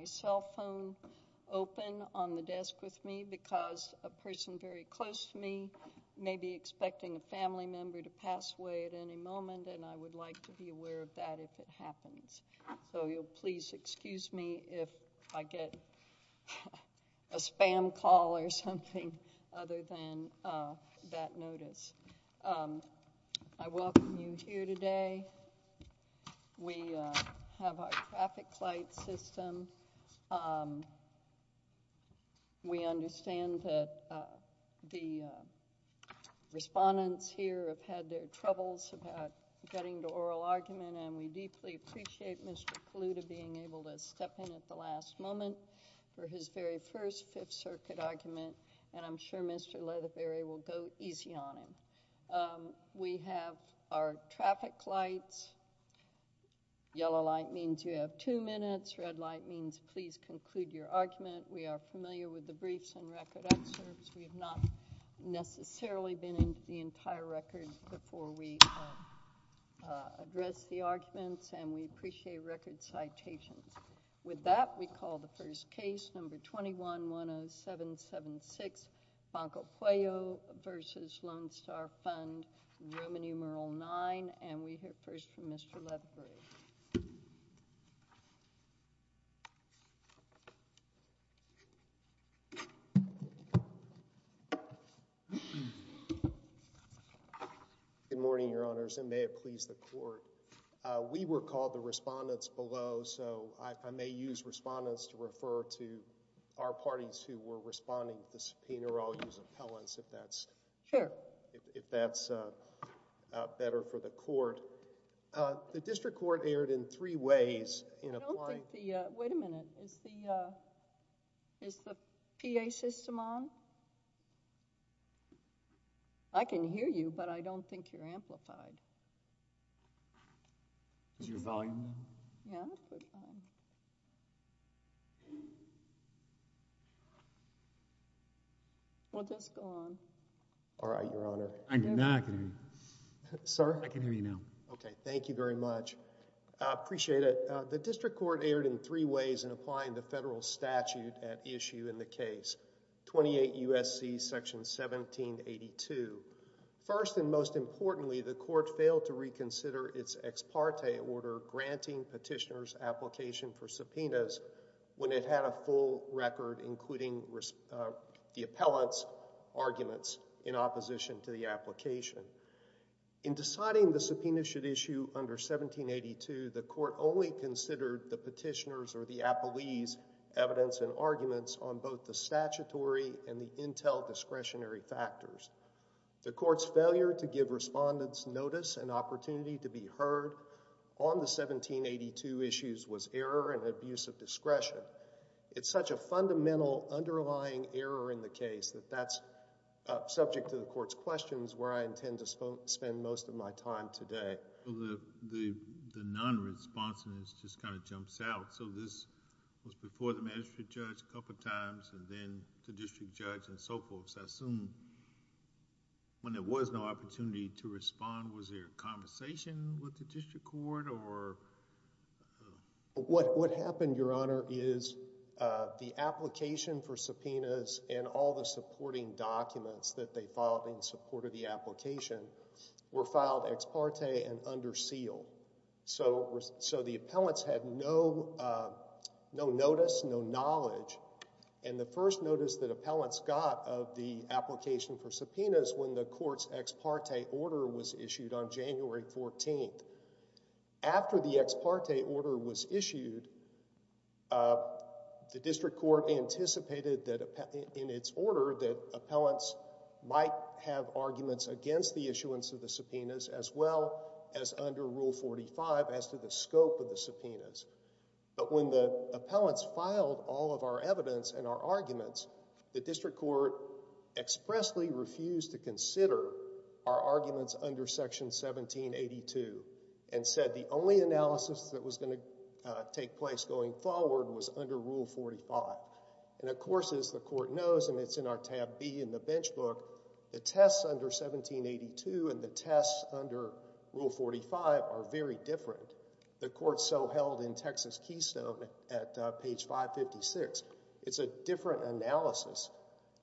I have my cell phone open on the desk with me because a person very close to me may be expecting a family member to pass away at any moment and I would like to be aware of that if it happens. So you'll please excuse me if I get a spam call or something other than that notice. I welcome you here today. We have our traffic light system. We understand that the respondents here have had their troubles about getting to oral argument and we deeply appreciate Mr. Kaluta being able to step in at the last moment for his very first Fifth Circuit argument and I'm sure Mr. Leatherberry will go easy on him. We have our traffic lights. Yellow light means you have two minutes. Red light means please conclude your argument. We are familiar with the briefs and record excerpts. We have not necessarily been into the entire record before we address the arguments and we appreciate record citations. With that we call the first case, number 21-10776, Banco Pueyo v. Lone Star Fund Roman numeral IX and we hear first from Mr. Leatherberry. Good morning, Your Honors, and may it please the Court. We were called the respondents below so I may use respondents to refer to our parties who were responding to the subpoena or I'll use appellants if that's better for the Court. The District Court erred in three ways in applying... Wait a minute. Is the PA system on? I can hear you but I don't think you're amplified. Is your volume on? Yeah. We'll just go on. All right, Your Honor. I can hear you now. Sir? I can hear you now. Okay. Thank you very much. I appreciate it. The District Court erred in three ways in applying the federal statute at issue in the U.S.C. Section 1782. First and most importantly, the Court failed to reconsider its ex parte order granting petitioners' application for subpoenas when it had a full record including the appellant's arguments in opposition to the application. In deciding the subpoena should issue under 1782, the Court only considered the petitioner's or the appellee's evidence and arguments on both the statutory and the intel discretionary factors. The Court's failure to give respondents notice and opportunity to be heard on the 1782 issues was error and abuse of discretion. It's such a fundamental underlying error in the case that that's subject to the Court's questions where I intend to spend most of my time today. The non-responsiveness just kind of jumps out. So this was before the magistrate judge a couple of times and then the district judge and so forth. So I assume when there was no opportunity to respond, was there a conversation with the District Court or... What happened, Your Honor, is the application for subpoenas and all the supporting documents that they filed in support of the application were filed ex parte and under seal. So the appellants had no notice, no knowledge. And the first notice that appellants got of the application for subpoenas when the Court's ex parte order was issued on January 14th, after the ex parte order was issued, the District Court might have arguments against the issuance of the subpoenas as well as under Rule 45 as to the scope of the subpoenas. But when the appellants filed all of our evidence and our arguments, the District Court expressly refused to consider our arguments under Section 1782 and said the only analysis that was going to take place going forward was under Rule 45. And of course, as the Court knows, and it's in our tab B in the bench book, the tests under 1782 and the tests under Rule 45 are very different. The Court so held in Texas Keystone at page 556. It's a different analysis.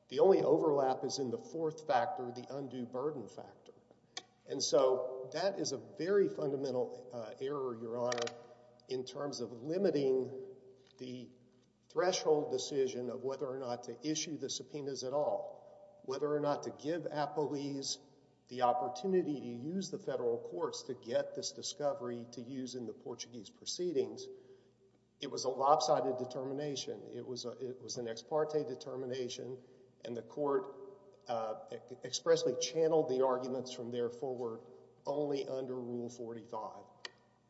The only overlap is in the fourth factor, the undue burden factor. And so that is a very fundamental error, Your Honor, in terms of limiting the threshold decision of whether or not to issue the subpoenas at all, whether or not to give appellees the opportunity to use the federal courts to get this discovery to use in the Portuguese proceedings. It was a lopsided determination. It was an ex parte determination, and the Court expressly channeled the arguments from there forward only under Rule 45.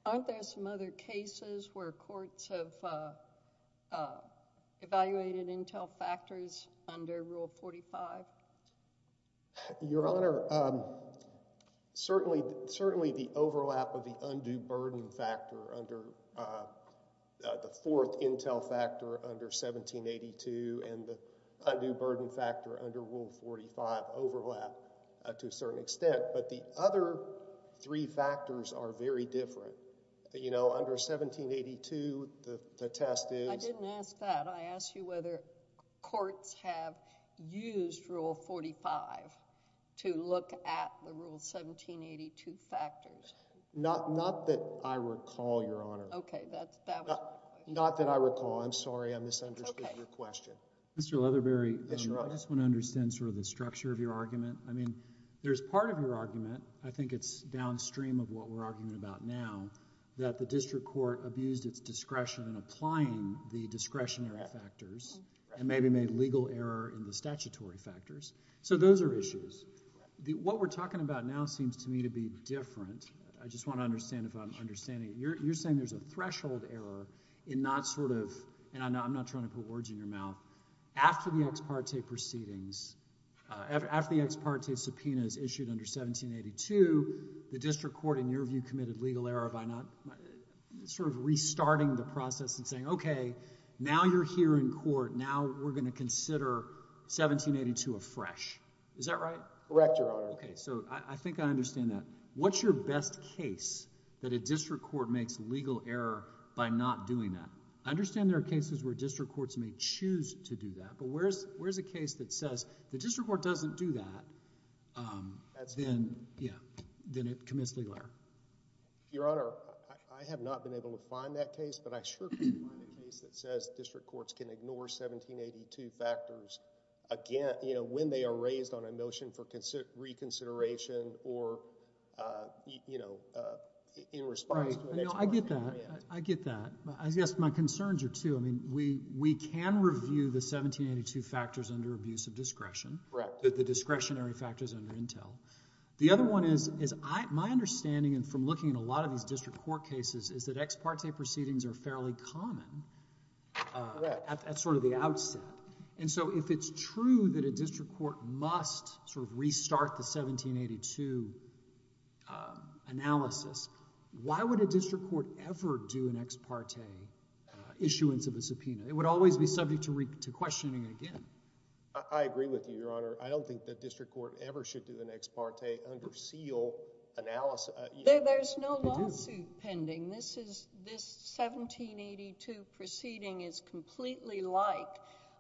Aren't there some other cases where courts have evaluated intel factors under Rule 45? Your Honor, certainly the overlap of the undue burden factor under the fourth intel factor under 1782 and the undue burden factor under Rule 45 overlap to a certain extent. But the other three factors are very different. You know, under 1782, the test is— I didn't ask that. I asked you whether courts have used Rule 45 to look at the Rule 1782 factors. Not that I recall, Your Honor. OK, that was— Not that I recall. I'm sorry I misunderstood your question. Mr. Leatherberry, I just want to understand sort of the structure of your argument. I mean, there's part of your argument—I think it's downstream of what we're arguing about now—that the district court abused its discretion in applying the discretionary factors and maybe made legal error in the statutory factors. So those are issues. What we're talking about now seems to me to be different. I just want to understand if I'm understanding it. You're saying there's a threshold error in not sort of—and I'm not trying to put words in your mouth—after the ex parte proceedings, after the ex parte subpoena is issued under 1782, the district court, in your view, committed legal error by not sort of restarting the process and saying, OK, now you're here in court. Now we're going to consider 1782 afresh. Is that right? Correct, Your Honor. OK, so I think I understand that. What's your best case that a district court makes legal error by not doing that? I understand there are cases where district courts may choose to do that, but where's a case that says the district court doesn't do that, then, yeah, then it commits legal error? Your Honor, I have not been able to find that case, but I sure can find a case that says district courts can ignore 1782 factors again, you know, when they are raised on a motion for reconsideration or, you know, in response to an ex parte subpoena. I get that. I get that. I guess my concerns are two. I mean, we can review the 1782 factors under abuse of discretion. Correct. The discretionary factors under Intel. The other one is my understanding from looking at a lot of these district court cases is that ex parte proceedings are fairly common at sort of the outset. And so if it's true that a district court must sort of restart the 1782 analysis, why would a district court ever do an ex parte issuance of a subpoena? It would always be subject to questioning again. I agree with you, Your Honor. I don't think that district court ever should do an ex parte under seal analysis. There's no lawsuit pending. This is, this 1782 proceeding is completely like,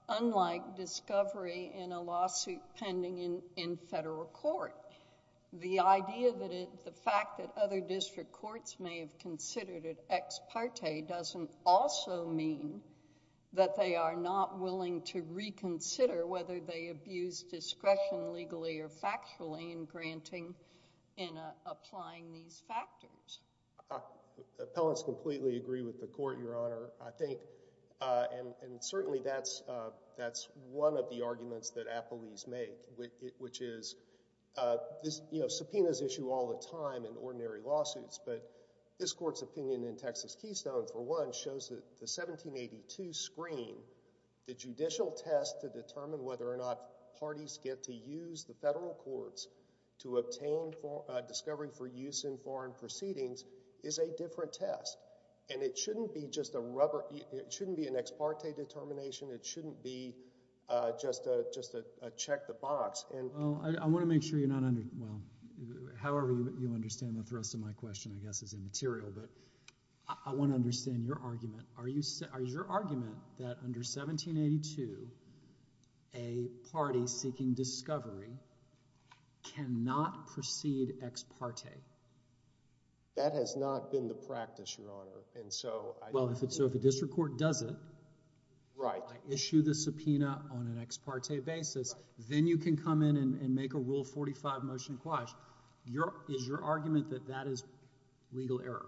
unlike discovery in a lawsuit pending in federal court. The idea that it, the fact that other district courts may have considered it ex parte doesn't also mean that they are not willing to reconsider whether they abuse discretion legally or factually in granting, in applying these factors. Appellants completely agree with the court, Your Honor. I think, and certainly that's, that's one of the arguments that appellees make, which is this, you know, subpoenas issue all the time in ordinary lawsuits. But this court's opinion in Texas Keystone, for one, shows that the 1782 screen, the judicial test to determine whether or not parties get to use the federal courts to obtain discovery for use in foreign proceedings is a different test. And it shouldn't be just a rubber, it shouldn't be an ex parte determination. It shouldn't be just a, just a check the box. Well, I want to make sure you're not under, well, however you understand the thrust of my question, I guess, is immaterial. But I want to understand your argument. Are you, are your argument that under 1782, a party seeking discovery cannot proceed ex parte? That has not been the practice, Your Honor. And so, well, if it's, so if a district court does it, Right. Issue the subpoena on an ex parte basis, then you can come in and make a Rule 45 motion quash. Your, is your argument that that is legal error?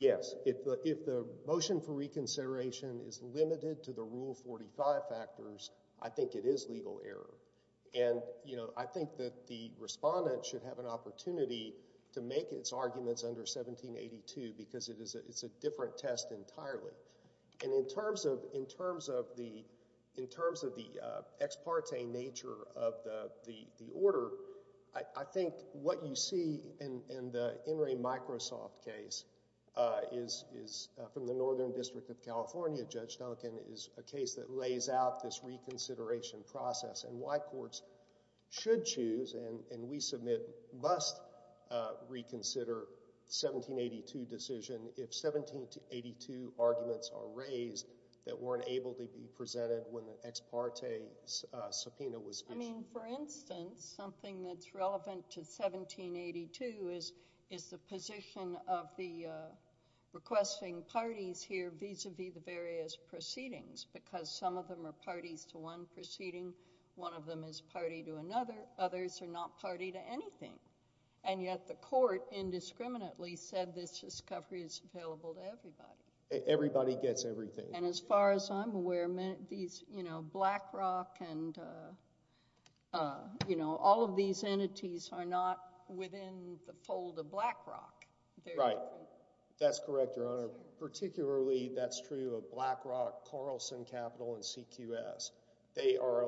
Yes. If the, if the motion for reconsideration is limited to the Rule 45 factors, I think it is legal error. And, you know, I think that the respondent should have an opportunity to make its arguments under 1782 because it is a, it's a different test entirely. And in terms of, in terms of the, in terms of the ex parte nature of the order, I think what you see in the In re Microsoft case is, is from the Northern District of California, Judge Duncan, is a case that lays out this reconsideration process and why courts should and we submit must reconsider 1782 decision if 1782 arguments are raised that weren't able to be presented when the ex parte subpoena was issued. I mean, for instance, something that's relevant to 1782 is, is the position of the requesting parties here vis-a-vis the various proceedings, because some of them are parties to one proceeding. One of them is party to another. Others are not party to anything. And yet the court indiscriminately said this discovery is available to everybody. Everybody gets everything. And as far as I'm aware, these, you know, Blackrock and, you know, all of these entities are not within the fold of Blackrock. Right. That's correct, Your Honor. Particularly, that's true of Blackrock, Carlson Capital, and CQS. They are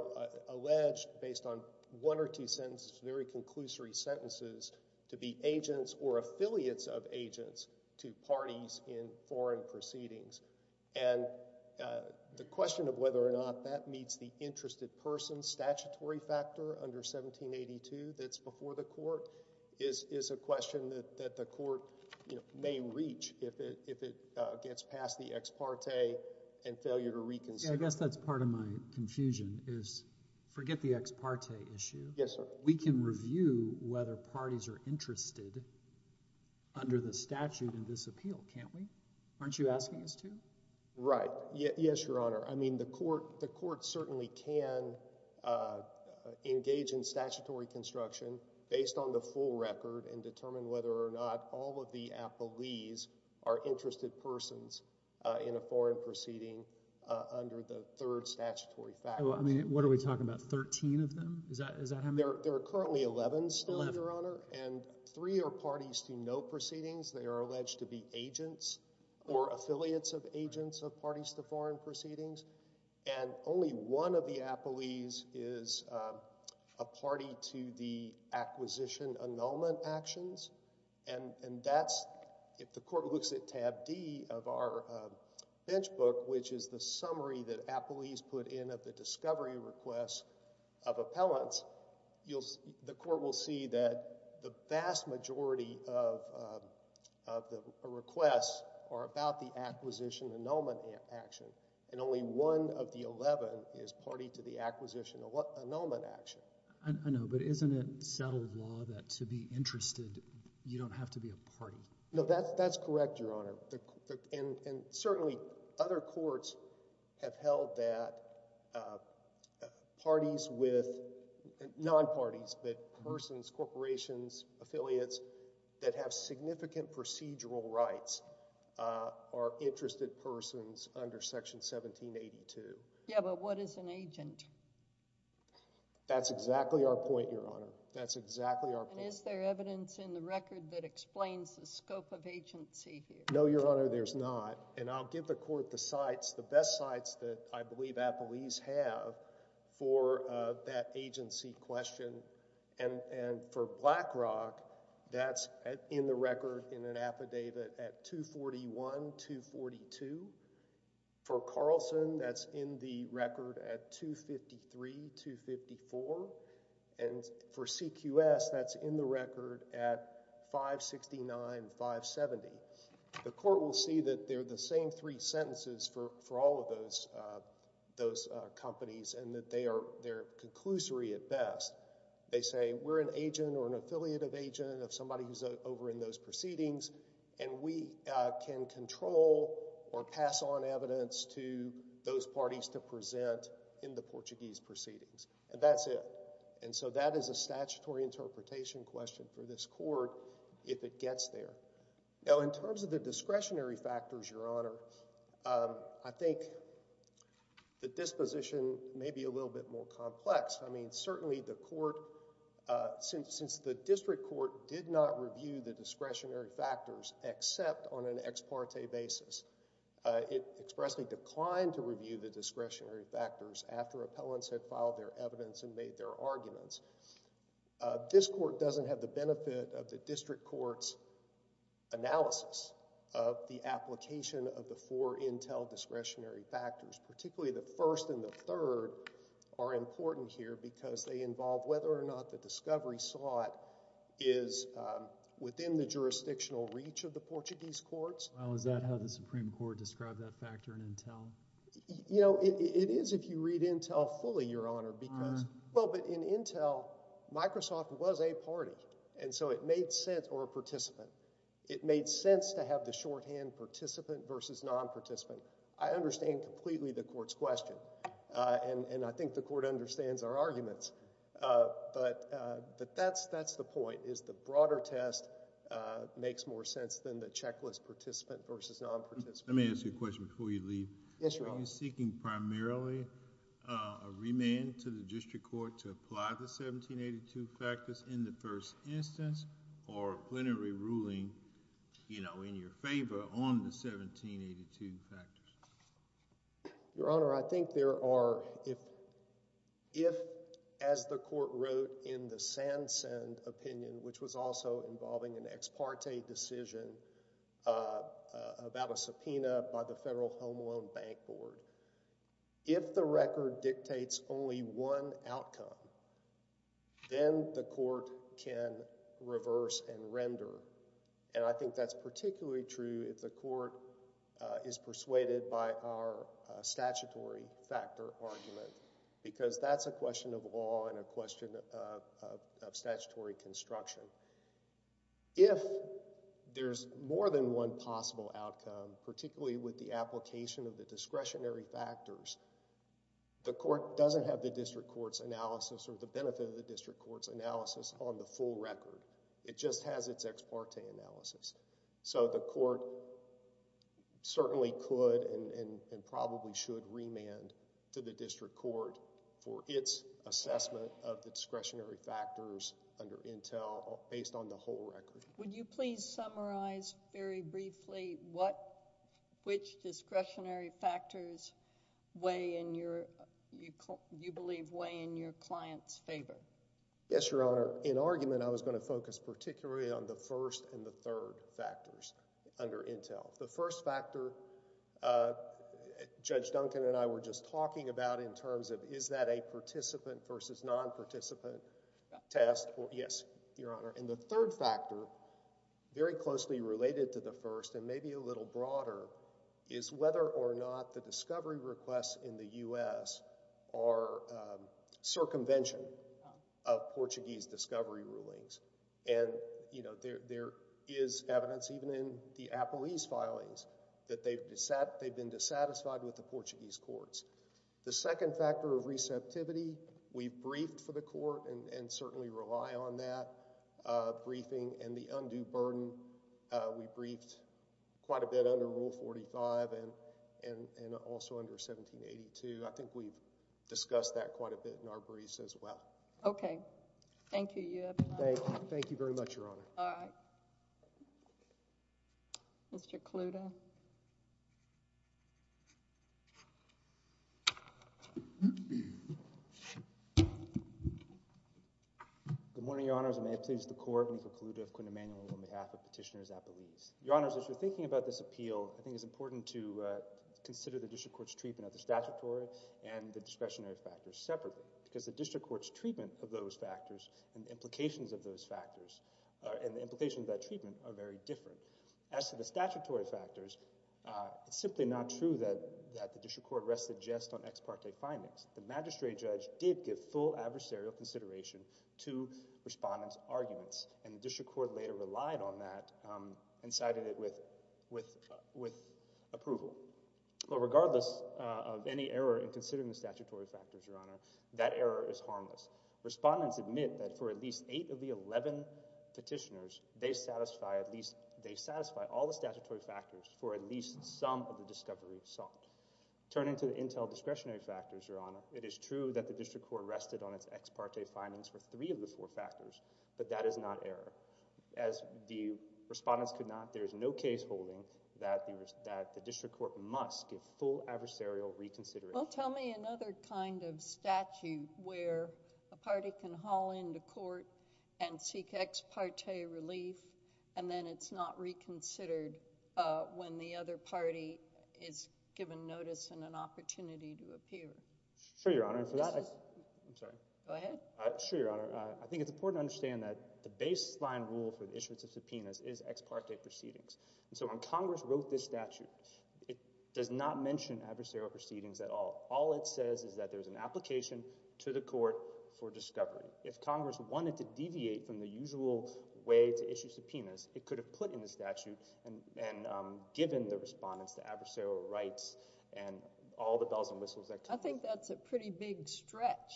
alleged, based on one or two sentences, very conclusory sentences, to be agents or affiliates of agents to parties in foreign proceedings. And the question of whether or not that meets the interested person statutory factor under 1782 that's before the court is, is a question that, that the court, you know, may reach if it, if it gets past the ex parte and failure to reconsider. I guess that's part of my confusion is, forget the ex parte issue. Yes, sir. We can review whether parties are interested under the statute in this appeal, can't we? Aren't you asking us to? Right. Yes, Your Honor. I mean, the court, the court certainly can engage in statutory construction based on the full record and determine whether or not all of the affiliates are interested persons in a foreign proceeding under the third statutory factor. Well, I mean, what are we talking about, 13 of them? Is that, is that how many? There are currently 11 still, Your Honor. And three are parties to no proceedings. They are alleged to be agents or affiliates of agents of parties to foreign proceedings. And only one of the appellees is a party to the acquisition annulment actions. And, and that's, if the court looks at tab D of our bench book, which is the summary that appellees put in of the discovery requests of appellants, you'll, the court will see that the vast majority of, of the requests are about the acquisition annulment action. And only one of the 11 is party to the acquisition annulment action. I know, but isn't it settled law that to be interested, you don't have to be a party? No, that's, that's correct, Your Honor. And, and certainly other courts have held that parties with, non-parties, but persons, corporations, affiliates that have significant procedural rights are interested persons under section 1782. Yeah, but what is an agent? That's exactly our point, Your Honor. That's exactly our point. And is there evidence in the record that explains the scope of agency here? No, Your Honor, there's not. And I'll give the court the sites, the best sites that I believe appellees have for that agency question. And, and for Blackrock, that's in the record in an affidavit at 241, 242. For Carlson, that's in the record at 253, 254. And for CQS, that's in the record at 569, 570. The court will see that they're the same three sentences for, for all of those, those companies and that they are, they're conclusory at best. They say, we're an agent or an affiliative agent of somebody who's over in those proceedings and we can control or pass on evidence to those parties to present in the Portuguese proceedings. And that's it. And so that is a statutory interpretation question for this court if it gets there. Now, in terms of the discretionary factors, Your Honor, I think the disposition may be a little bit more complex. I mean, certainly the court, since, since the district court did not review the discretionary factors except on an ex parte basis. It expressly declined to review the discretionary factors after appellants had filed their evidence and made their arguments. This court doesn't have the benefit of the district court's analysis of the application of the four intel discretionary factors. Particularly the first and the third are important here because they involve whether or not the discovery slot is within the jurisdictional reach of the Portuguese courts. Well, is that how the Supreme Court described that factor in intel? You know, it is if you read intel fully, Your Honor, because, well, but in intel, Microsoft was a party. And so it made sense, or a participant. It made sense to have the shorthand participant versus non-participant. I understand completely the court's question. And, and I think the court understands our arguments. But, but that's, that's the point is the broader test makes more sense than the checklist participant versus non-participant. Let me ask you a question before you leave. Yes, Your Honor. Are you seeking primarily a remand to the district court to apply the 1782 factors in the first instance, or a plenary ruling, you know, in your favor on the 1782 factors? Your Honor, I think there are, if, if, as the court wrote in the Sand Send opinion, which was also involving an ex parte decision about a subpoena by the Federal Home Loan Bank Board, if the record dictates only one outcome, then the court can reverse and render. And I think that's particularly true if the court is persuaded by our statutory factor argument, because that's a question of law and a question of, of, of statutory construction. If there's more than one possible outcome, particularly with the application of the discretionary factors, the court doesn't have the district court's analysis or the benefit of the district court's analysis on the full record. It just has its ex parte analysis. So the court certainly could and, and, and probably should remand to the district court for its assessment of the discretionary factors under Intel based on the whole record. Would you please summarize very briefly what, which discretionary factors weigh in your, you, you believe weigh in your client's favor? Yes, Your Honor. In argument, I was going to focus particularly on the first and the third factors under Intel. The first factor Judge Duncan and I were just talking about in terms of is that a participant versus non-participant test? Yes, Your Honor. And the third factor, very closely related to the first and maybe a little broader, is whether or not the discovery requests in the U.S. are circumvention of Portuguese discovery rulings. And, you know, there, there is evidence even in the Apple East filings that they've dissat, they've been dissatisfied with the Portuguese courts. The second factor of receptivity, we've briefed for the court and, and certainly rely on that briefing and the undue burden. We briefed quite a bit under Rule 45 and, and, and also under 1782. I think we've discussed that quite a bit in our briefs as well. Okay. Thank you. Thank you very much, Your Honor. All right. Mr. Kaluta. Good morning, Your Honors. May it please the Court, I'm Michael Kaluta of Quinn Emanuel on behalf of Petitioners at the Lease. Your Honors, as you're thinking about this appeal, I think it's important to consider the district court's treatment of the statutory and the discretionary factors separately. Because the district court's treatment of those factors and the implications of those factors and the implications of that treatment are very different. As to the statutory factors, it's simply not true that, that the district court rested just on ex parte findings. The magistrate judge did give full adversarial consideration to respondents' arguments and the district court later relied on that and cited it with, with, with approval. But regardless of any error in considering the statutory factors, Your Honor, that error is harmless. Respondents admit that for at least 8 of the 11 petitioners, they satisfy at least, they satisfy all the statutory factors for at least some of the discovery sought. Turning to the intel discretionary factors, Your Honor, it is true that the district court rested on its ex parte findings for 3 of the 4 factors, but that is not error. As the respondents could not, there is no case holding that the, that the district court must give full adversarial reconsideration. Well, tell me another kind of statute where a party can haul into court and seek ex parte relief and then it's not reconsidered when the other party is given notice and an opportunity to appear. Sure, Your Honor. And for that, I'm sorry. Go ahead. Sure, Your Honor. I think it's important to understand that the baseline rule for the issuance of subpoenas is ex parte proceedings. And so when Congress wrote this statute, it does not mention adversarial proceedings at all. All it says is that there's an application to the court for discovery. If Congress wanted to deviate from the usual way to issue subpoenas, it could have put in the statute and, and given the respondents the adversarial rights and all the bells and whistles that come with it. I think that's a pretty big stretch.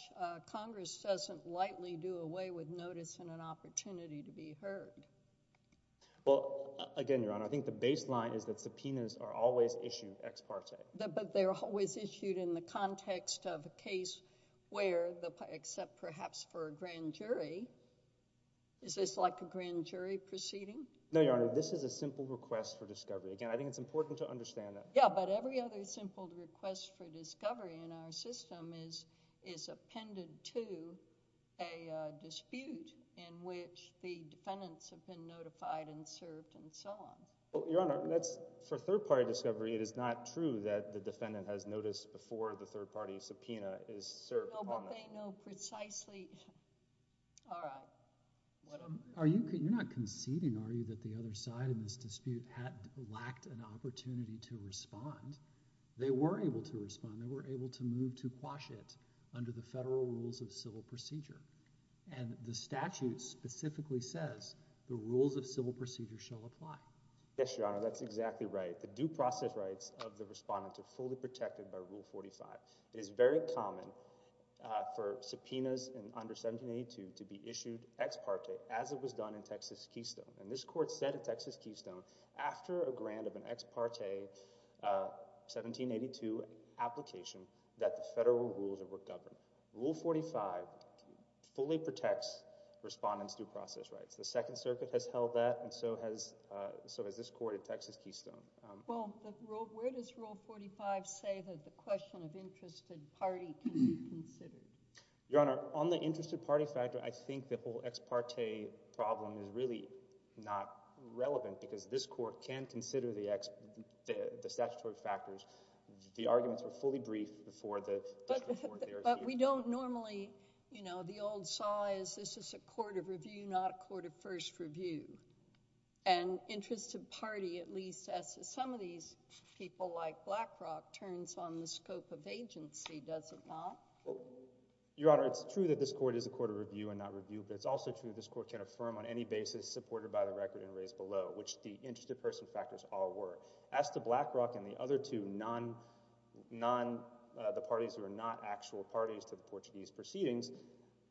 Congress doesn't lightly do away with notice and an opportunity to be heard. Well, again, Your Honor, I think the baseline is that subpoenas are always issued ex parte. But they're always issued in the context of a case where the, except perhaps for a grand jury, is this like a grand jury proceeding? No, Your Honor. This is a simple request for discovery. Again, I think it's important to understand that. Yeah, but every other simple request for discovery in our system is, is appended to a dispute in which the defendants have been notified and served and so on. Well, Your Honor, that's, for third party discovery, it is not true that the defendant has noticed before the third party subpoena is served. No, but they know precisely. All right. Are you, you're not conceding, are you, that the other side in this dispute had, an opportunity to respond? They were able to respond. They were able to move to quash it under the federal rules of civil procedure. And the statute specifically says the rules of civil procedure shall apply. Yes, Your Honor, that's exactly right. The due process rights of the respondent are fully protected by Rule 45. It is very common for subpoenas under 1782 to be issued ex parte as it was done in Texas Keystone. And this court said at Texas Keystone, after a grant of an ex parte 1782 application, that the federal rules were governed. Rule 45 fully protects respondents due process rights. The Second Circuit has held that and so has, so has this court at Texas Keystone. Well, where does Rule 45 say that the question of interested party can be considered? Your Honor, on the interested party factor, I think the whole ex parte problem is really not relevant because this court can consider the ex, the statutory factors. The arguments were fully briefed before the, before the argument. But we don't normally, you know, the old saw is this is a court of review, not a court of first review. And interested party, at least as some of these people like Blackrock, turns on the scope of agency, does it not? Your Honor, it's true that this court is a court of review and not review, but it's also true this court can affirm on any basis supported by the record and raised below, which the interested person factors all were. As to Blackrock and the other two non, non, the parties who are not actual parties to the Portuguese proceedings,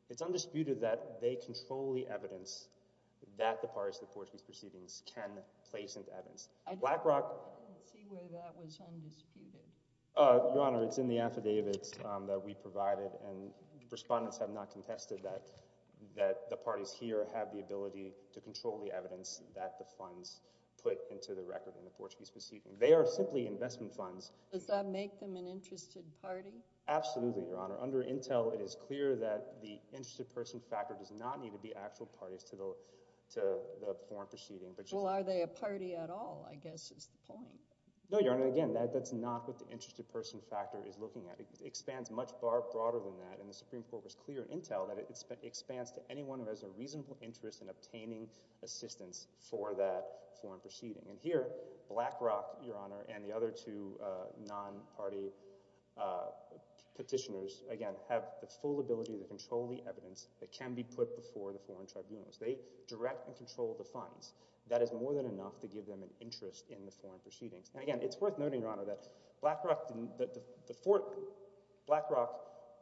it's undisputed that they control the evidence that the parties to the Portuguese proceedings can place into evidence. Blackrock— I don't see where that was undisputed. Your Honor, it's in the affidavits that we provided and respondents have not contested that the parties here have the ability to control the evidence that the funds put into the record in the Portuguese proceedings. They are simply investment funds. Does that make them an interested party? Absolutely, Your Honor. Under Intel, it is clear that the interested person factor does not need to be actual parties to the, to the foreign proceeding. Well, are they a party at all? I guess is the point. No, Your Honor, again, that's not what the interested person factor is looking at. It expands much broader than that. And the Supreme Court was clear in Intel that it expands to anyone who has a reasonable interest in obtaining assistance for that foreign proceeding. And here, Blackrock, Your Honor, and the other two non-party petitioners, again, have the full ability to control the evidence that can be put before the foreign tribunals. They direct and control the funds. That is more than enough to give them an interest in the foreign proceedings. And again, it's worth noting, Your Honor, that Blackrock didn't, that the four, Blackrock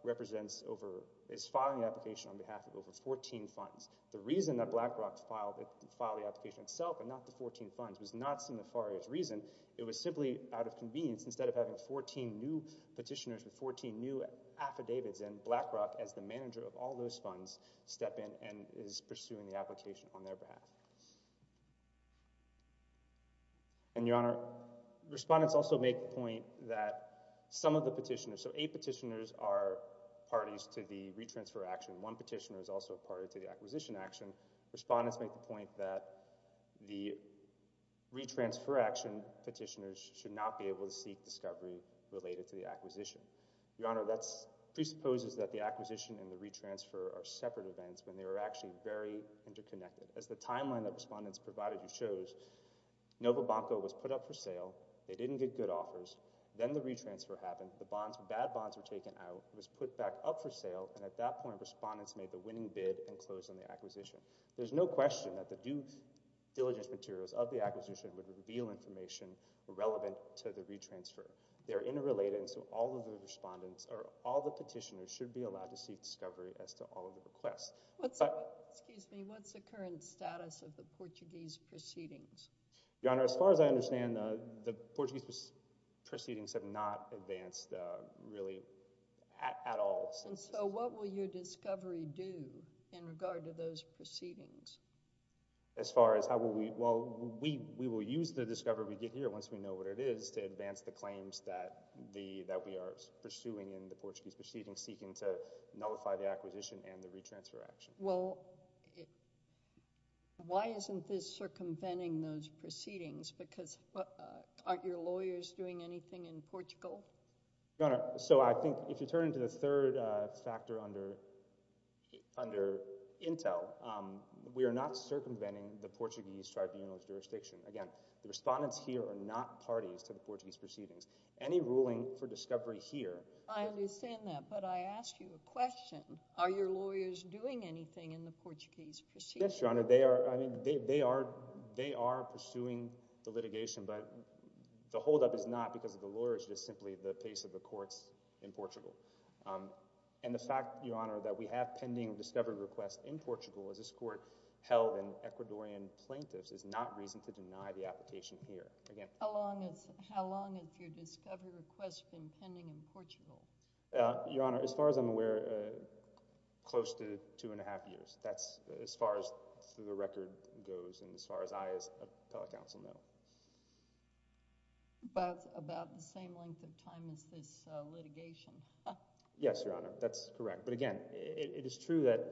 represents over, is filing the application on behalf of over 14 funds. The reason that Blackrock filed, filed the application itself and not the 14 funds was not some nefarious reason. It was simply out of convenience. Instead of having 14 new petitioners with 14 new affidavits in, Blackrock, as the manager of all those funds, step in and is pursuing the application on their behalf. And, Your Honor, respondents also make the point that some of the petitioners, so eight petitioners are parties to the re-transfer action. One petitioner is also a party to the acquisition action. Respondents make the point that the re-transfer action petitioners should not be able to seek discovery related to the acquisition. Your Honor, that presupposes that the acquisition and the re-transfer are separate events when they were actually very interconnected. As the timeline that respondents provided you shows, Novobanco was put up for sale, they didn't get good offers, then the re-transfer happened, the bonds, bad bonds were taken out, it was put back up for sale, and at that point respondents made the winning bid and closed on the acquisition. There's no question that the due diligence materials of the acquisition would reveal information relevant to the re-transfer. They're interrelated and so all of the respondents, or all the petitioners, should be allowed to seek discovery as to all of the requests. What's the current status of the Portuguese proceedings? Your Honor, as far as I understand, the Portuguese proceedings have not advanced really at all. And so what will your discovery do in regard to those proceedings? As far as how will we, well, we will use the discovery we get here once we know what it is to advance the claims that we are pursuing in the Portuguese proceedings seeking to nullify the acquisition and the re-transfer action. Well, why isn't this circumventing those proceedings? Because aren't your lawyers doing anything in Portugal? Your Honor, so I think if you turn into the third factor under intel, we are not circumventing the Portuguese tribunal's jurisdiction. Again, the respondents here are not parties to the Portuguese proceedings. Any ruling for discovery here— I understand that, but I ask you a question. Are your lawyers doing anything in the Portuguese proceedings? Yes, Your Honor. They are pursuing the litigation, but the holdup is not because of the lawyers, just simply the pace of the courts in Portugal. And the fact, Your Honor, that we have pending discovery requests in Portugal, as this court held in Ecuadorian plaintiffs, is not reason to deny the application here. How long have your discovery requests been pending in Portugal? Your Honor, as far as I'm aware, close to two and a half years. That's as far as the record goes and as far as I as an appellate counsel know. About the same length of time as this litigation. Yes, Your Honor, that's correct. But again, it is true that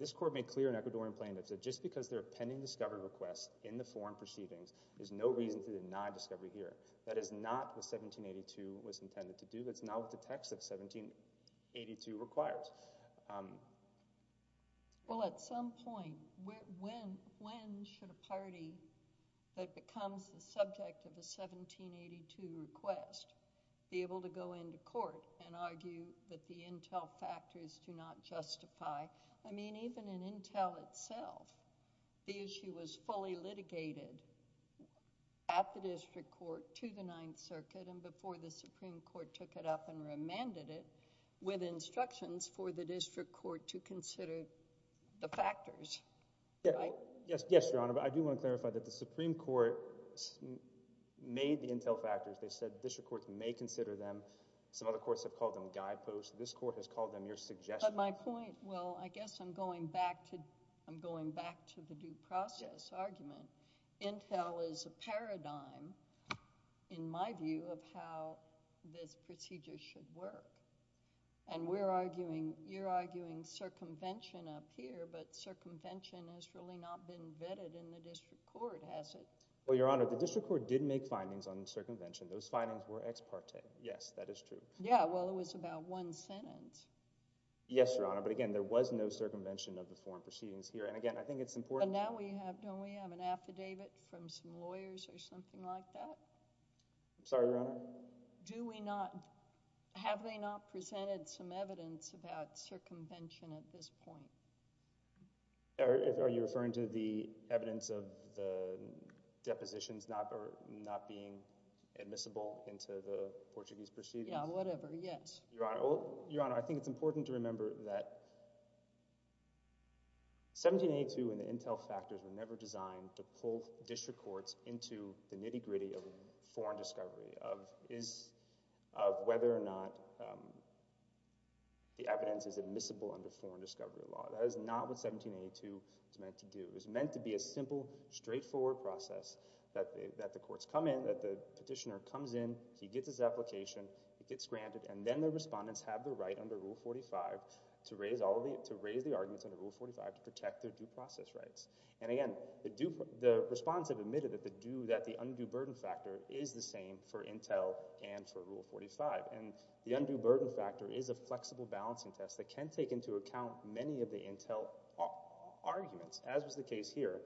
this court made clear in Ecuadorian plaintiffs that just because they're pending discovery requests in the foreign proceedings, there's no reason to deny discovery here. That is not what 1782 was intended to do. That's not what the text of 1782 requires. Well, at some point, when should a party that becomes the subject of the 1782 request be able to go into court and argue that the intel factors do not justify—I mean, even in intel itself, the issue was fully litigated at the district court to the Ninth Circuit and before the Supreme Court took it up and remanded it with instructions for the district court to consider the factors, right? Yes, Your Honor, but I do want to clarify that the Supreme Court made the intel factors. They said district courts may consider them. Some other courts have called them guideposts. This court has called them your suggestions. But my point—well, I guess I'm going back to the due process argument. Intel is a paradigm, in my view, of how this procedure should work. And we're arguing—you're arguing circumvention up here, but circumvention has really not been vetted in the district court, has it? Well, Your Honor, the district court did make findings on circumvention. Those findings were ex parte. Yes, that is true. Yeah, well, it was about one sentence. Yes, Your Honor, but again, there was no circumvention of the foreign proceedings here. And again, I think it's important— But now we have—don't we have an affidavit from some lawyers or something like that? I'm sorry, Your Honor? Do we not—have they not presented some evidence about circumvention at this point? Are you referring to the evidence of the depositions not being admissible into the Portuguese proceedings? Yeah, whatever, yes. Your Honor, I think it's important to remember that 1782 and the Intel factors were never designed to pull district courts into the nitty-gritty of foreign discovery, of whether or not the evidence is admissible under foreign discovery law. That is not what 1782 is meant to do. It was meant to be a simple, straightforward process that the courts come in, that the respondents have the right under Rule 45 to raise the arguments under Rule 45 to protect their due process rights. And again, the respondents have admitted that the undue burden factor is the same for Intel and for Rule 45. And the undue burden factor is a flexible balancing test that can take into account many of the Intel arguments, as was the case here.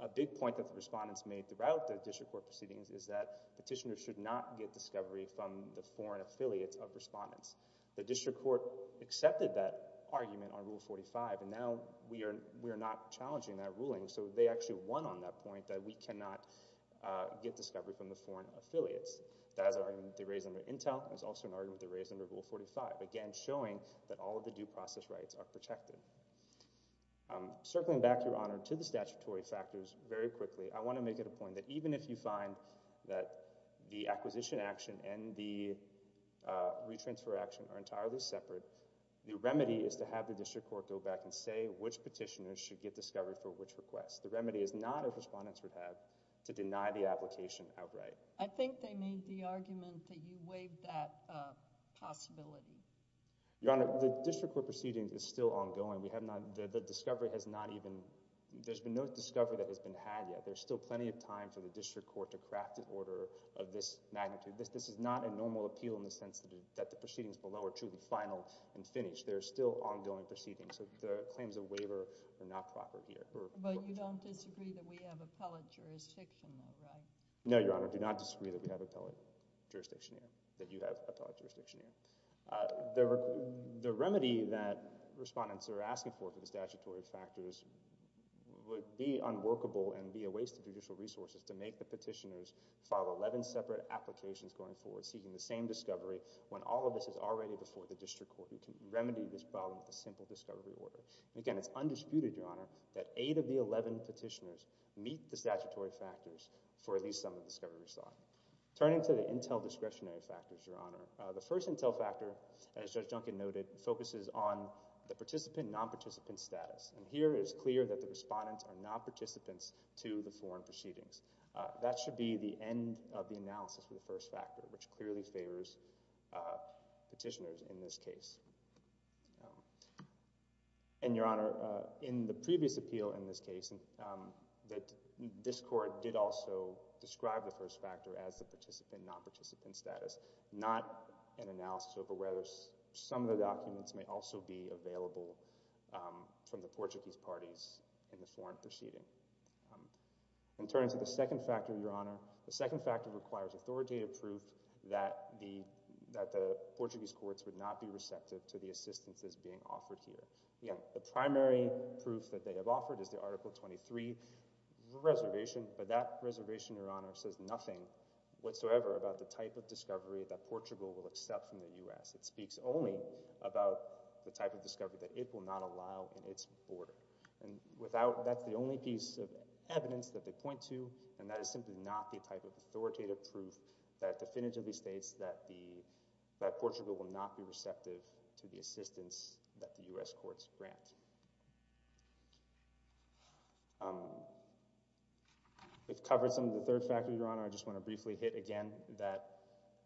A big point that the respondents made throughout the district court proceedings is that petitioners should not get discovery from the foreign affiliates of respondents. The district court accepted that argument on Rule 45, and now we are not challenging that ruling. So they actually won on that point that we cannot get discovery from the foreign affiliates. That is an argument they raised under Intel, and it's also an argument they raised under Rule 45, again, showing that all of the due process rights are protected. Circling back, Your Honor, to the statutory factors very quickly, I want to make it a that the acquisition action and the retransfer action are entirely separate. The remedy is to have the district court go back and say which petitioners should get discovery for which request. The remedy is not, as respondents would have, to deny the application outright. I think they made the argument that you waived that possibility. Your Honor, the district court proceedings is still ongoing. We have not—the discovery has not even—there's been no discovery that has been had yet. There's still plenty of time for the district court to craft an order of this magnitude. This is not a normal appeal in the sense that the proceedings below are truly final and finished. They're still ongoing proceedings. So the claims of waiver are not proper here. But you don't disagree that we have appellate jurisdiction there, right? No, Your Honor. I do not disagree that we have appellate jurisdiction here, that you have appellate jurisdiction here. The remedy that respondents are asking for for the statutory factors would be unworkable and be a waste of judicial resources to make the petitioners file 11 separate applications going forward seeking the same discovery when all of this is already before the district court. You can remedy this problem with a simple discovery order. Again, it's undisputed, Your Honor, that eight of the 11 petitioners meet the statutory factors for at least some of the discovery sought. Turning to the intel discretionary factors, Your Honor, the first intel factor, as Judge Duncan noted, focuses on the participant, non-participant status. Here, it is clear that the respondents are non-participants to the foreign proceedings. That should be the end of the analysis for the first factor, which clearly favors petitioners in this case. And, Your Honor, in the previous appeal in this case, this court did also describe the first factor as the participant, non-participant status, not an analysis over whether some of the documents may also be available from the Portuguese parties in the foreign proceeding. In terms of the second factor, Your Honor, the second factor requires authoritative proof that the Portuguese courts would not be receptive to the assistance that's being offered here. Again, the primary proof that they have offered is the Article 23 reservation, but that reservation, Your Honor, says nothing whatsoever about the type of discovery that Portugal will accept from the U.S. It speaks only about the type of discovery that it will not allow in its border. And that's the only piece of evidence that they point to, and that is simply not the type of authoritative proof that definitively states that Portugal will not be receptive to the assistance that the U.S. courts grant. Your Honor, I just want to briefly hit again that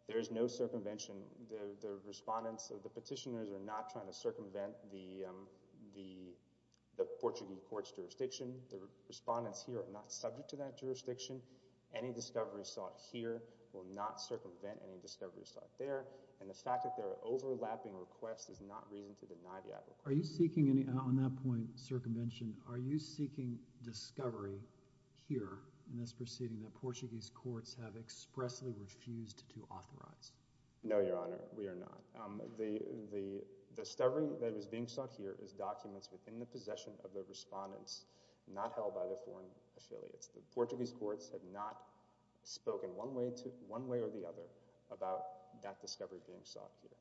there is no circumvention. The respondents of the petitioners are not trying to circumvent the Portuguese court's jurisdiction. The respondents here are not subject to that jurisdiction. Any discovery sought here will not circumvent any discovery sought there, and the fact that there are overlapping requests is not reason to deny the idea of a court. Are you seeking, on that point, circumvention, are you seeking discovery here in this proceeding that Portuguese courts have expressly refused to authorize? No, Your Honor, we are not. The discovery that is being sought here is documents within the possession of the respondents, not held by their foreign affiliates. The Portuguese courts have not spoken one way or the other about that discovery being sought here.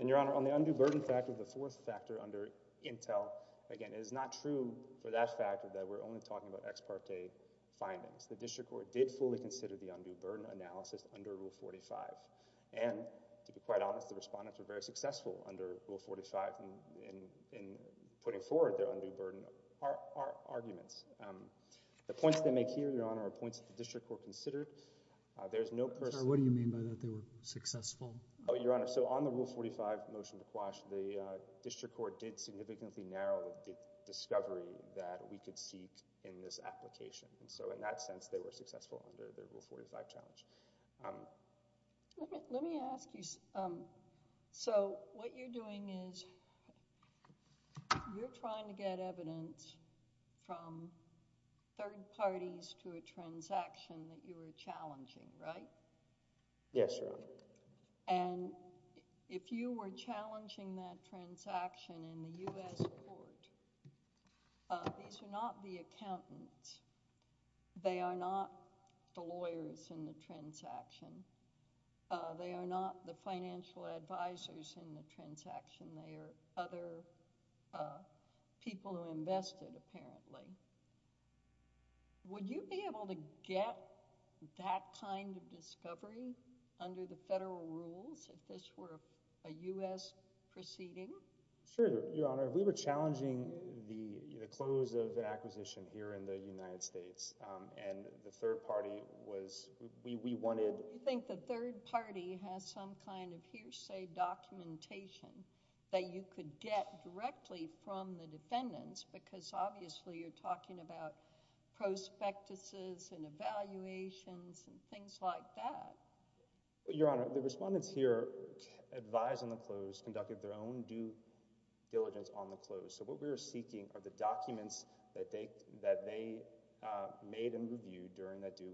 And, Your Honor, on the undue burden factor, the fourth factor under Intel, again, it is not true for that factor that we are only talking about ex parte findings. The district court did fully consider the undue burden analysis under Rule 45, and, to be quite honest, the respondents were very successful under Rule 45 in putting forward their undue burden arguments. The points they make here, Your Honor, are points that the district court considered. There is no person— Sir, what do you mean by that they were successful? Oh, Your Honor, so on the Rule 45 motion to quash, the district court did significantly narrow the discovery that we could seek in this application, and so, in that sense, they were successful under the Rule 45 challenge. Let me ask you, so what you're doing is you're trying to get evidence from third parties to a transaction that you were challenging, right? Yes, Your Honor. And if you were challenging that transaction in the U.S. court, these are not the accountants. They are not the lawyers in the transaction. They are not the financial advisors in the transaction. They are other people who invested, apparently. Would you be able to get that kind of discovery under the federal rules if this were a U.S. proceeding? Sure, Your Honor. We were challenging the close of an acquisition here in the United States, and the third party was—we wanted— Do you think the third party has some kind of hearsay documentation that you could get directly from the defendants? Because, obviously, you're talking about prospectuses and evaluations and things like that. Your Honor, the respondents here advised on the close, conducted their own due diligence on the close. So what we're seeking are the documents that they made and reviewed during that due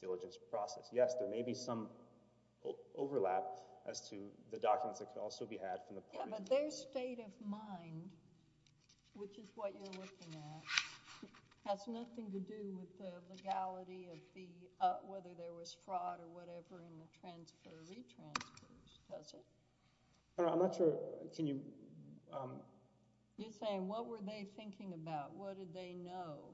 diligence process. Yes, there may be some overlap as to the documents that could also be had from the parties. But their state of mind, which is what you're looking at, has nothing to do with the legality of the—whether there was fraud or whatever in the transfer or retransfers, does it? I'm not sure—can you— You're saying, what were they thinking about? What did they know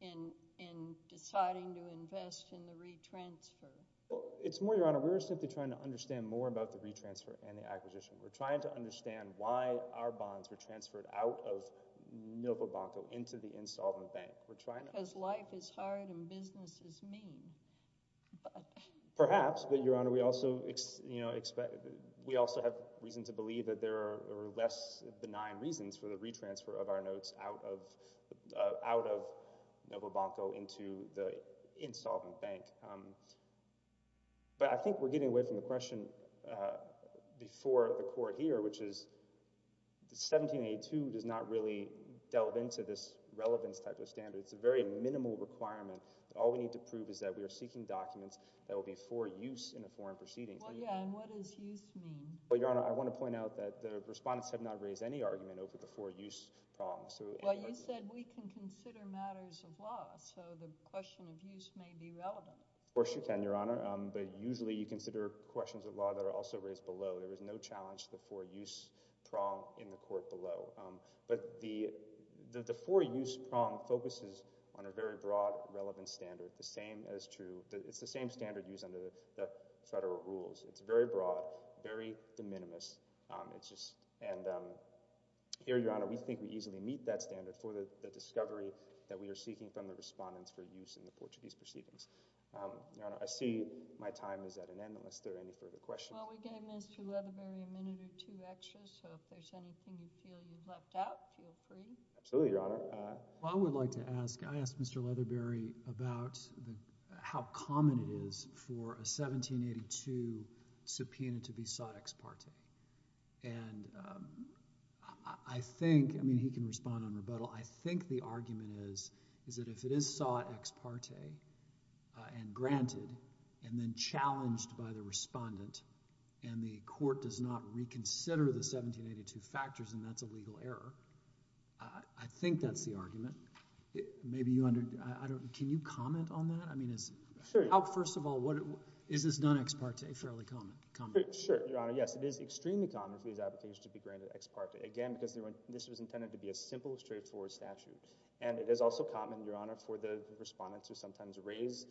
in deciding to invest in the retransfer? Well, it's more, Your Honor, we were simply trying to understand more about the retransfer and the acquisition. We're trying to understand why our bonds were transferred out of Novobanco into the Insolvent Bank. Because life is hard and business is mean. Perhaps, but, Your Honor, we also have reason to believe that there are less benign reasons for the retransfer of our notes out of Novobanco into the Insolvent Bank. But I think we're getting away from the question before the Court here, which is 1782 does not really delve into this relevance type of standard. It's a very minimal requirement. All we need to prove is that we are seeking documents that will be for use in a foreign proceeding. Well, yeah, and what does use mean? Well, Your Honor, I want to point out that the respondents have not raised any argument over the for-use problem. Well, you said we can consider matters of law, so the question of use may be relevant. Of course you can, Your Honor, but usually you consider questions of law that are also raised below. There is no challenge to the for-use prong in the Court below. But the for-use prong focuses on a very broad, relevant standard. It's the same standard used under the federal rules. It's very broad, very de minimis. And here, Your Honor, we think we easily meet that standard for the discovery that we are seeking from the respondents for use in the Portuguese proceedings. Your Honor, I see my time is at an end unless there are any further questions. Well, we gave Mr. Leatherbury a minute or two extra, so if there's anything you feel you've left out, feel free. Absolutely, Your Honor. Well, I would like to ask, I asked Mr. Leatherbury about how common it is for a 1782 subpoena to be sought ex parte. And I think, I mean, he can respond on rebuttal. I think the argument is, is that if it is sought ex parte and granted, and then challenged by the respondent, and the Court does not reconsider the 1782 factors, and that's a legal error, I think that's the argument. Maybe you under, I don't, can you comment on that? I mean, it's, how, first of all, what, is this done ex parte fairly common, common? Sure, Your Honor. Yes, it is extremely common for these applications to be granted ex parte. Again, because this was intended to be a simple, straightforward statute. And it is also common, Your Honor, for the respondent to sometimes raise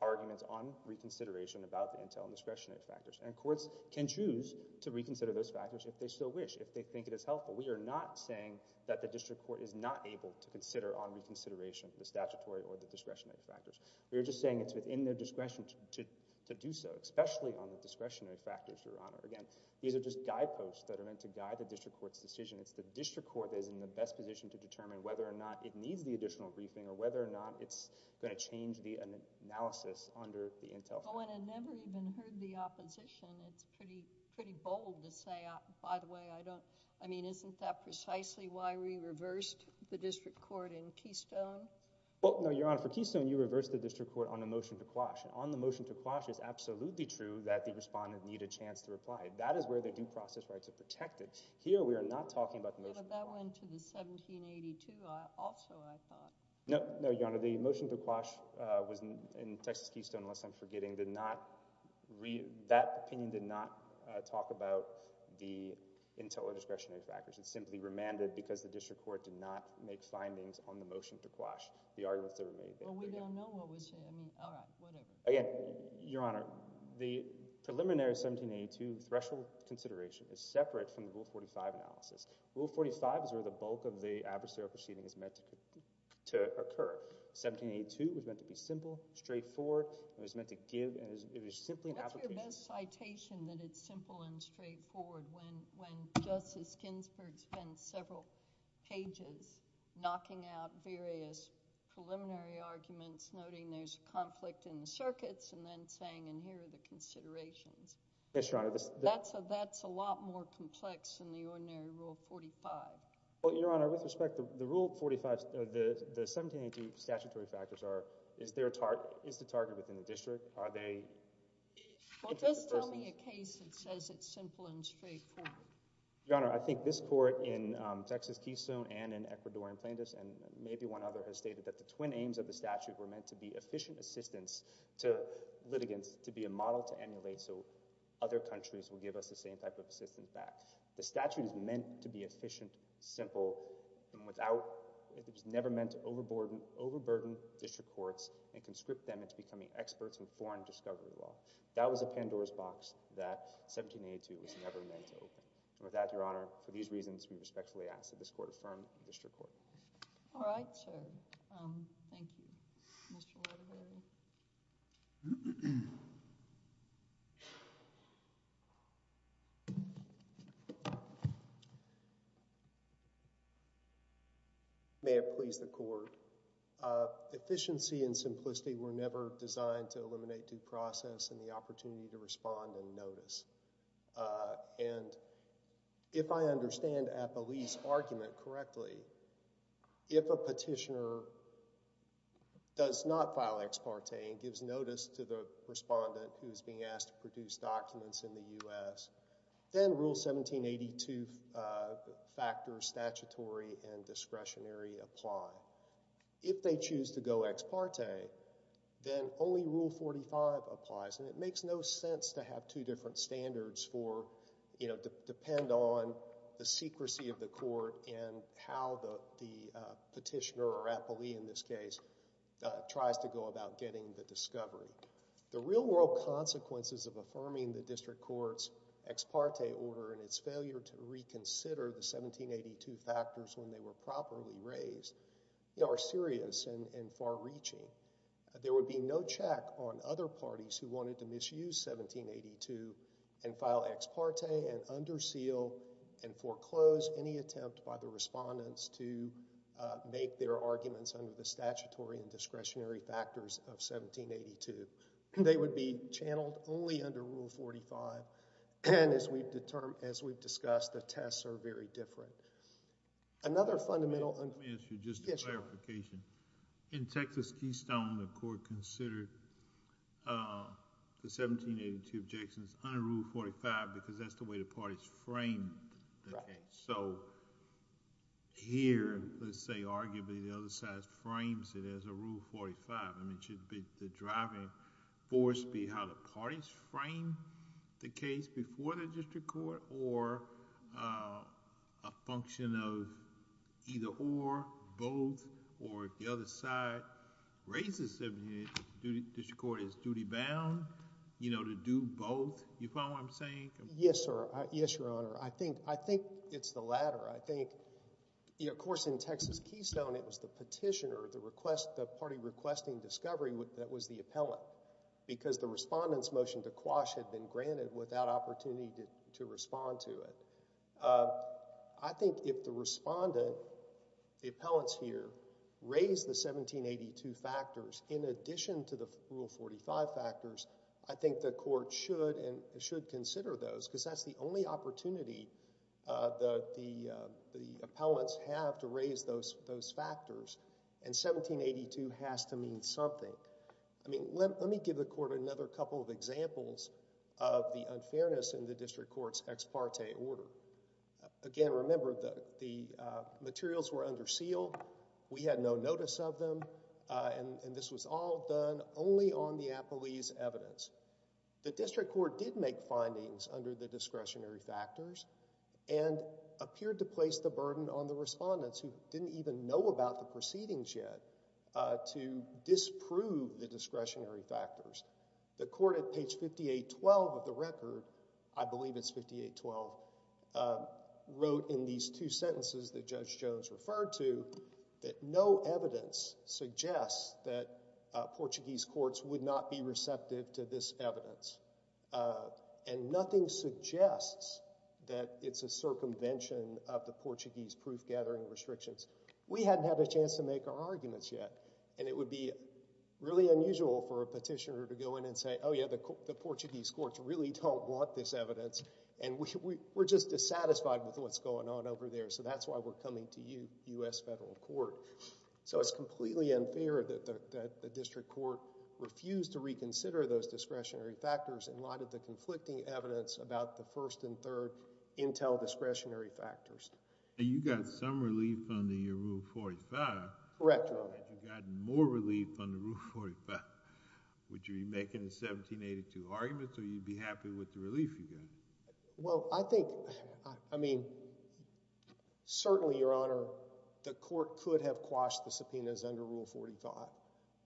arguments on reconsideration about the intel and discretionary factors. And courts can choose to reconsider those factors if they so wish, if they think it is helpful. We are not saying that the District Court is not able to consider on reconsideration the statutory or the discretionary factors. We are just saying it's within their discretion to do so, especially on the discretionary factors, Your Honor. Again, these are just guideposts that are meant to guide the District Court's decision. It's the District Court that is in the best position to determine whether or not it needs the additional briefing, or whether or not it's going to change the analysis under the intel. Well, when I never even heard the opposition, it's pretty, pretty bold to say, by the way, I don't, I mean, isn't that precisely why we reversed the District Court in Keystone? Well, no, Your Honor, for Keystone, you reversed the District Court on a motion to quash. And on the motion to quash, it's absolutely true that the respondent needed a chance to reply. That is where the due process rights are protected. Here, we are not talking about the motion. But that went to the 1782 also, I thought. No, no, Your Honor. The motion to quash was in Texas Keystone, unless I'm forgetting, did not, that opinion did not talk about the intel or discretionary factors. It simply remanded because the District Court did not make findings on the motion to quash the arguments that were made there. Well, we don't know what was said. I mean, all right, whatever. Again, Your Honor, the preliminary 1782 threshold consideration is separate from the Rule 45 analysis. Rule 45 is where the bulk of the adversarial proceeding is meant to occur. 1782 was meant to be simple, straightforward. It was meant to give, and it was simply an application. What's your best citation that it's simple and straightforward when Justice Ginsburg spends several pages knocking out various preliminary arguments, noting there's a conflict in the circuits, and then saying, and here are the considerations? Yes, Your Honor. That's a lot more complex than the ordinary Rule 45. Well, Your Honor, with respect, the Rule 45, the 1782 statutory factors are, is the target within the District? Are they? Well, just tell me a case that says it's simple and straightforward. Your Honor, I think this Court in Texas-Keystone and in Ecuadorian plaintiffs, and maybe one other, has stated that the twin aims of the statute were meant to be efficient assistance to litigants, to be a model to emulate so other countries will give us the same type of assistance back. The statute is meant to be efficient, simple, and without, it was never meant to overburden district courts and conscript them into becoming experts in foreign discovery law. That was a Pandora's box that 1782 was never meant to open. And with that, Your Honor, for these reasons, we respectfully ask that this Court affirm the District Court. All right, sir. Thank you. Mr. Waterbury. May it please the Court. Efficiency and simplicity were never designed to eliminate due process and the opportunity to respond and notice. And if I understand Apolli's argument correctly, if a petitioner does not file ex parte and gives notice to the respondent who is being asked to produce documents in the U.S., then Rule 1782 factors statutory and discretionary apply. If they choose to go ex parte, then only Rule 45 applies. And it makes no sense to have two different standards for, you know, depend on the secrecy of the court and how the petitioner, or Apolli in this case, tries to go about getting the discovery. The real world consequences of affirming the District Court's ex parte order and its and far-reaching. There would be no check on other parties who wanted to misuse 1782 and file ex parte and under seal and foreclose any attempt by the respondents to make their arguments under the statutory and discretionary factors of 1782. They would be channeled only under Rule 45. As we've discussed, the tests are very different. Another fundamental— In Texas Keystone, the court considered the 1782 objections under Rule 45 because that's the way the parties framed the case. So here, let's say arguably the other side frames it as a Rule 45. I mean, should the driving force be how the parties frame the case before the District Court or a function of either or, both, or if the other side raises it, the District Court is duty-bound, you know, to do both. You follow what I'm saying? Yes, sir. Yes, Your Honor. I think it's the latter. I think, of course, in Texas Keystone, it was the petitioner, the party requesting discovery that was the appellant because the respondent's motion to quash had been granted without opportunity to respond to it. I think if the respondent, the appellants here, raised the 1782 factors in addition to the Rule 45 factors, I think the court should consider those because that's the only opportunity that the appellants have to raise those factors, and 1782 has to mean something. I mean, let me give the court another couple of examples of the unfairness in the District Court's ex parte order. Again, remember the materials were under seal. We had no notice of them, and this was all done only on the appellee's evidence. The District Court did make findings under the discretionary factors and appeared to place the burden on the respondents who didn't even know about the proceedings yet to disprove the discretionary factors. The court at page 5812 of the record—I believe it's 5812—wrote in these two sentences that Judge Jones referred to that no evidence suggests that Portuguese courts would not be receptive to this evidence, and nothing suggests that it's a circumvention of the Portuguese proof-gathering restrictions. We hadn't had a chance to make our arguments yet, and it would be really unusual for a petitioner to go in and say, oh yeah, the Portuguese courts really don't want this evidence, and we're just dissatisfied with what's going on over there, so that's why we're coming to you, U.S. Federal Court. So it's completely unfair that the District Court refused to reconsider those discretionary factors in light of the conflicting evidence about the first and third intel discretionary factors. And you got some relief under your Rule 45. Correct, Your Honor. And you got more relief under Rule 45. Would you be making the 1782 arguments, or you'd be happy with the relief you got? Well, I think—I mean, certainly, Your Honor, the court could have quashed the subpoenas under Rule 45,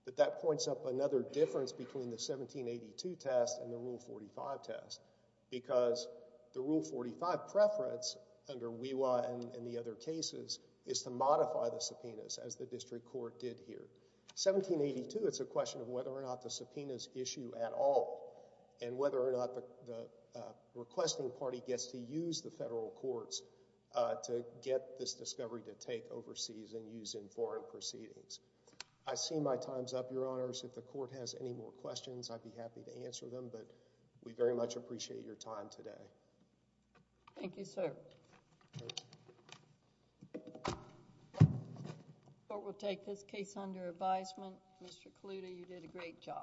but that points up another difference between the 1782 test and the Rule 45 test, because the Rule 45 preference under WEWA and the other cases is to modify the subpoenas, as the District Court did here. 1782, it's a question of whether or not the subpoenas issue at all, and whether or not the requesting party gets to use the federal courts to get this discovery to take overseas and use in foreign proceedings. I see my time's up, Your Honors. If the court has any more questions, I'd be happy to answer them, but we very much appreciate your time today. Thank you, sir. The court will take this case under advisement. Mr. Kaluta, you did a great job.